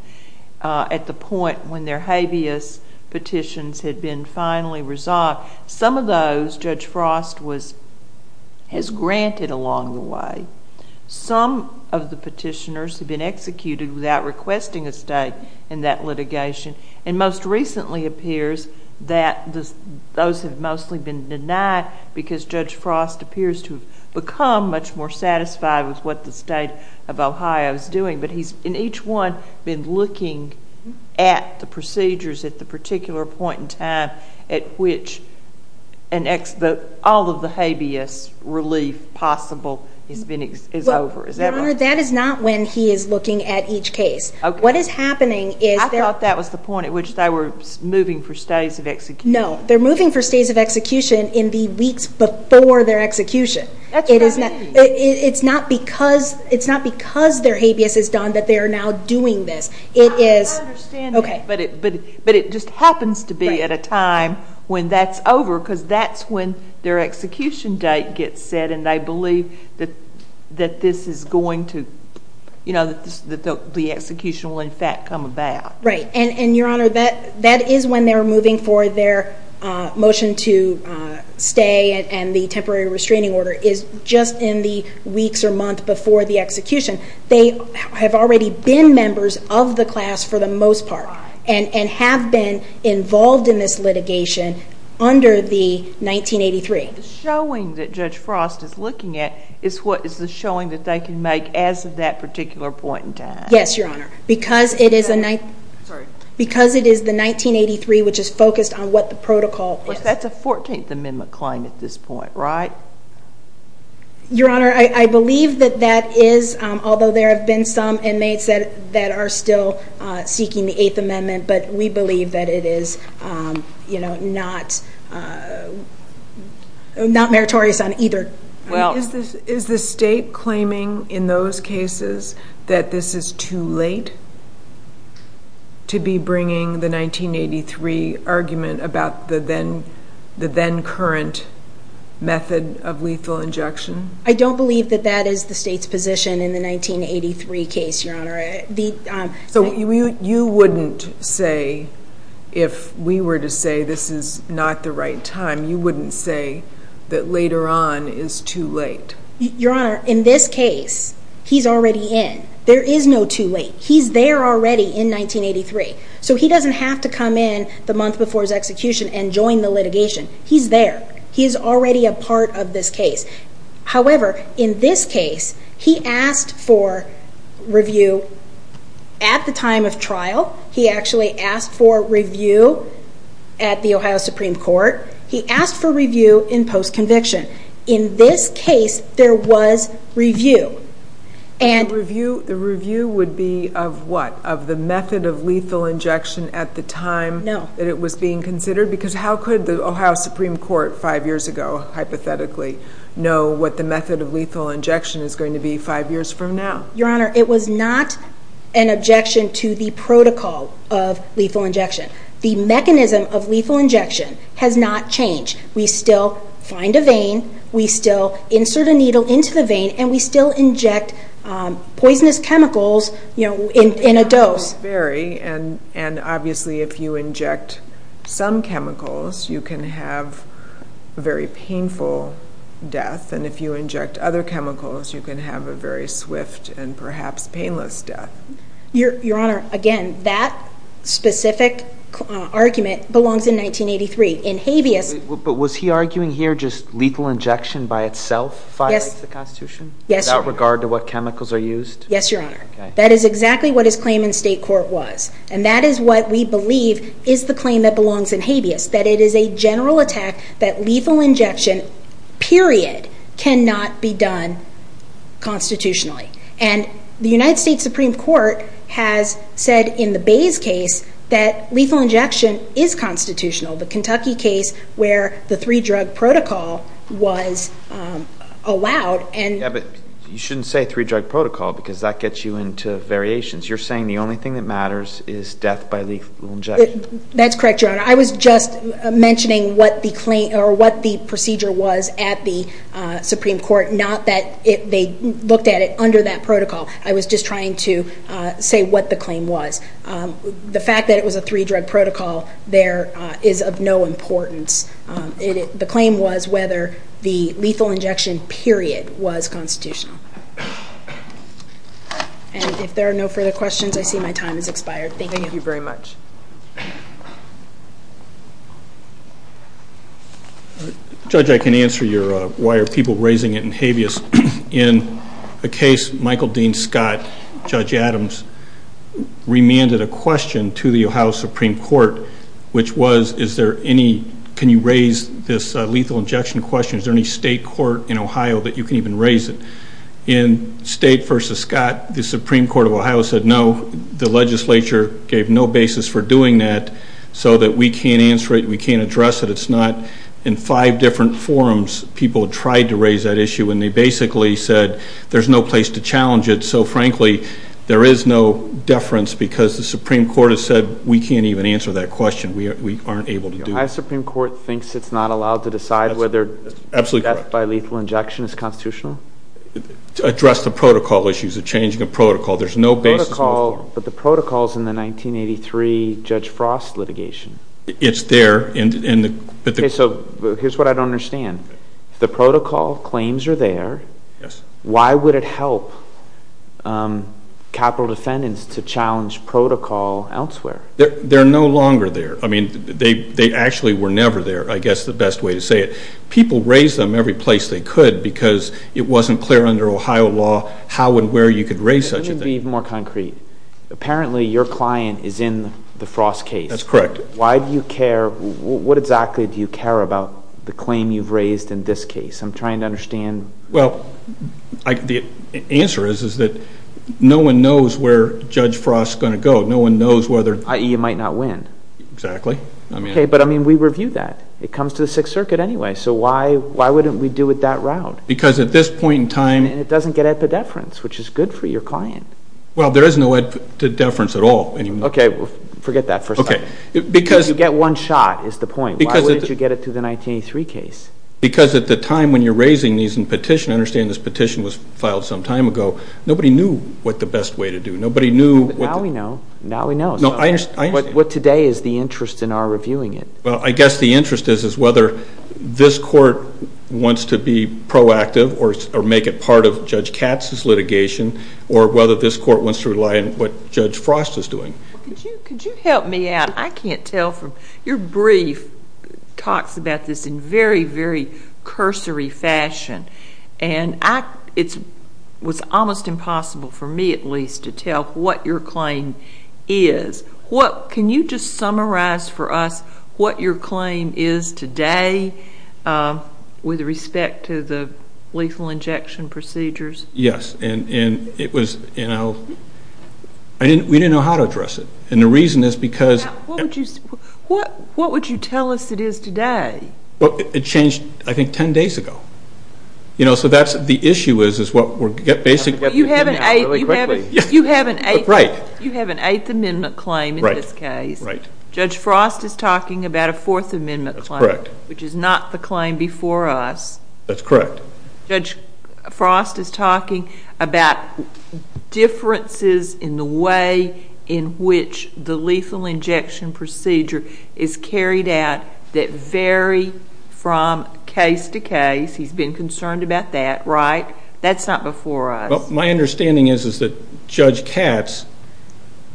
at the point when their habeas petitions had been finally resolved. Some of those Judge Frost has granted along the way. Some of the petitioners have been executed without requesting a stay in that litigation, and most recently appears that those have mostly been denied because Judge Frost appears to have become much more satisfied with what the state of Ohio is doing, but he's in each one been looking at the procedures at the particular point in time at which all of the habeas relief possible is over. Is that right? Your Honor, that is not when he is looking at each case. I thought that was the point at which they were moving for stays of execution. No, they're moving for stays of execution in the weeks before their execution. That's what I mean. It's not because their habeas is done that they are now doing this. I understand that, but it just happens to be at a time when that's over because that's when their execution date gets set and they believe that the execution will in fact come about. Your Honor, that is when they're moving for their motion to stay and the temporary restraining order is just in the weeks or months before the execution. They have already been members of the class for the most part and have been involved in this litigation under the 1983. The showing that Judge Frost is looking at is what is the showing that they can make as of that particular point in time. Yes, Your Honor, because it is the 1983 which is focused on what the protocol is. That's a 14th Amendment claim at this point, right? Your Honor, I believe that that is, although there have been some inmates that are still seeking the 8th Amendment, but we believe that it is not meritorious on either. Is the state claiming in those cases that this is too late to be bringing the 1983 argument about the then current method of lethal injection? I don't believe that that is the state's position in the 1983 case, Your Honor. So you wouldn't say, if we were to say this is not the right time, you wouldn't say that later on is too late? Your Honor, in this case, he's already in. There is no too late. He's there already in 1983. So he doesn't have to come in the month before his execution and join the litigation. He's there. He's already a part of this case. However, in this case, he asked for review at the time of trial. He actually asked for review at the Ohio Supreme Court. He asked for review in post-conviction. In this case, there was review. The review would be of what? Of the method of lethal injection at the time that it was being considered? No. Because how could the Ohio Supreme Court five years ago, hypothetically, know what the method of lethal injection is going to be five years from now? Your Honor, it was not an objection to the protocol of lethal injection. The mechanism of lethal injection has not changed. We still find a vein, we still insert a needle into the vein, and we still inject poisonous chemicals in a dose. Obviously, if you inject some chemicals, you can have a very painful death. If you inject other chemicals, you can have a very swift and perhaps painless death. Your Honor, again, that specific argument belongs in 1983. But was he arguing here just lethal injection by itself violates the Constitution? Without regard to what chemicals are used? Yes, Your Honor. That is exactly what his claim in state court was. That is what we believe is the claim that belongs in habeas, that it is a general attack that lethal injection, period, cannot be done constitutionally. The United States Supreme Court has said in the Bays case that lethal injection is constitutional. The Kentucky case where the three-drug protocol was allowed. Yes, but you shouldn't say three-drug protocol because that gets you into variations. You're saying the only thing that matters is death by lethal injection. That's correct, Your Honor. I was just mentioning what the procedure was at the Supreme Court, not that they looked at it under that protocol. I was just trying to say what the claim was. The fact that it was a three-drug protocol there is of no importance. The claim was whether the lethal injection, period, was constitutional. And if there are no further questions, I see my time has expired. Thank you. Thank you very much. Judge, I can answer your why are people raising it in habeas. In a case, Michael Dean Scott, Judge Adams, remanded a question to the Ohio Supreme Court, which was can you raise this lethal injection question? Is there any state court in Ohio that you can even raise it? In State v. Scott, the Supreme Court of Ohio said no. The legislature gave no basis for doing that so that we can't answer it. We can't address it. It's not in five different forums people tried to raise that issue, and they basically said there's no place to challenge it. So, frankly, there is no deference because the Supreme Court has said we can't even answer that question. We aren't able to do that. The Ohio Supreme Court thinks it's not allowed to decide whether death by lethal injection is constitutional? To address the protocol issues, the changing of protocol, there's no basis in the forum. But the protocol is in the 1983 Judge Frost litigation. It's there. Okay, so here's what I don't understand. If the protocol claims are there, why would it help capital defendants to challenge protocol elsewhere? They're no longer there. I mean, they actually were never there, I guess the best way to say it. People raised them every place they could because it wasn't clear under Ohio law how and where you could raise such a thing. Let me be more concrete. Apparently, your client is in the Frost case. That's correct. Why do you care? What exactly do you care about the claim you've raised in this case? I'm trying to understand. Well, the answer is that no one knows where Judge Frost is going to go. No one knows whether i.e., you might not win. Exactly. Okay, but I mean, we review that. It comes to the Sixth Circuit anyway, so why wouldn't we do it that route? Because at this point in time And it doesn't get epidepherence, which is good for your client. Well, there is no epidepherence at all. Okay, forget that for a second. You get one shot is the point. Why wouldn't you get it through the 1983 case? Because at the time when you're raising these in petition, I understand this petition was filed some time ago. Nobody knew what the best way to do it. Nobody knew Now we know. Now we know. No, I understand. What today is the interest in our reviewing it. Well, I guess the interest is whether this court wants to be proactive or make it part of Judge Katz's litigation or whether this court wants to rely on what Judge Frost is doing. Could you help me out? I can't tell from your brief talks about this in very, very cursory fashion. And it was almost impossible for me at least to tell what your claim is. Can you just summarize for us what your claim is today with respect to the lethal injection procedures? Yes. And it was, you know, we didn't know how to address it. And the reason is because What would you tell us it is today? Well, it changed, I think, 10 days ago. You know, so that's the issue is what we're basically You have an 8th Amendment claim in this case. Right. Judge Frost is talking about a 4th Amendment claim. That's correct. Which is not the claim before us. That's correct. Judge Frost is talking about differences in the way in which the lethal injection procedure is carried out that vary from case to case. He's been concerned about that, right? That's not before us. My understanding is that Judge Katz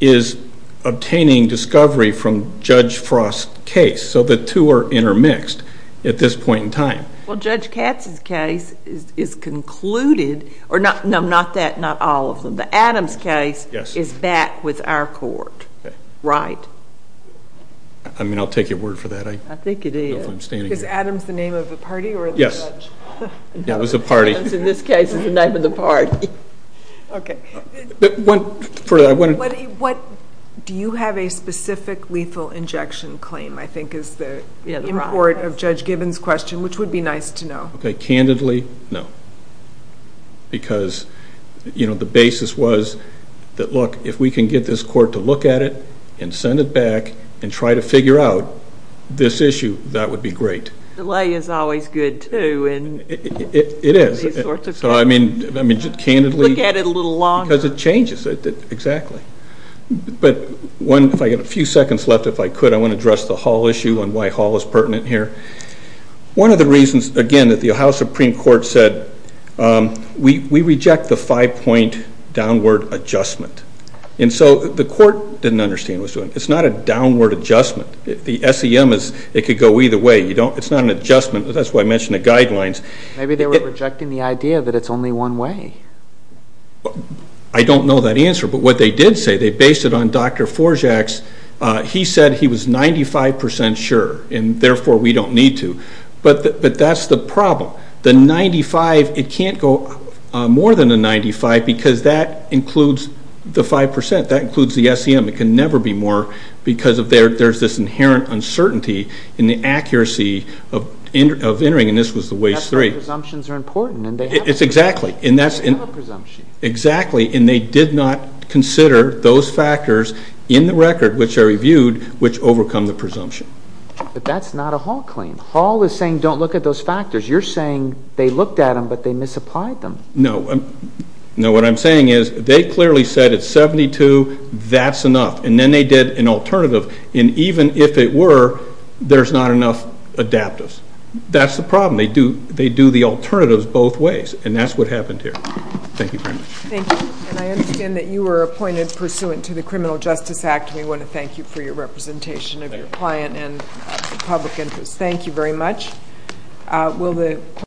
is obtaining discovery from Judge Frost's case. So the two are intermixed at this point in time. Well, Judge Katz's case is concluded. No, not that, not all of them. The Adams case is back with our court. Okay. Right. I mean, I'll take your word for that. I think it is. I'm standing here. Is Adams the name of the party or the judge? Yes. Yeah, it was the party. Adams, in this case, is the name of the party. Okay. Do you have a specific lethal injection claim, I think, is the import of Judge Gibbons' question, which would be nice to know? Okay, candidly, no. Because, you know, the basis was that, look, if we can get this court to look at it and send it back and try to figure out this issue, that would be great. Delay is always good, too, in these sorts of cases. It is. So, I mean, candidly. Look at it a little longer. Because it changes. Exactly. But if I get a few seconds left, if I could, I want to address the Hall issue and why Hall is pertinent here. One of the reasons, again, that the Ohio Supreme Court said, we reject the five-point downward adjustment. And so the court didn't understand what it was doing. It's not a downward adjustment. The SEM, it could go either way. It's not an adjustment. That's why I mentioned the guidelines. Maybe they were rejecting the idea that it's only one way. I don't know that answer. But what they did say, they based it on Dr. Forzak's. He said he was 95% sure and, therefore, we don't need to. But that's the problem. The 95, it can't go more than a 95 because that includes the 5%. That includes the SEM. It can never be more because there's this inherent uncertainty in the accuracy of entering. And this was the Waste 3. That's why presumptions are important. Exactly. And they did not consider those factors in the record, which I reviewed, which overcome the presumption. But that's not a Hall claim. Hall is saying don't look at those factors. You're saying they looked at them, but they misapplied them. No. No, what I'm saying is they clearly said at 72, that's enough. And then they did an alternative. And even if it were, there's not enough adaptives. That's the problem. They do the alternatives both ways. And that's what happened here. Thank you very much. Thank you. And I understand that you were appointed pursuant to the Criminal Justice Act. We want to thank you for your representation of your client and public interest. Thank you very much.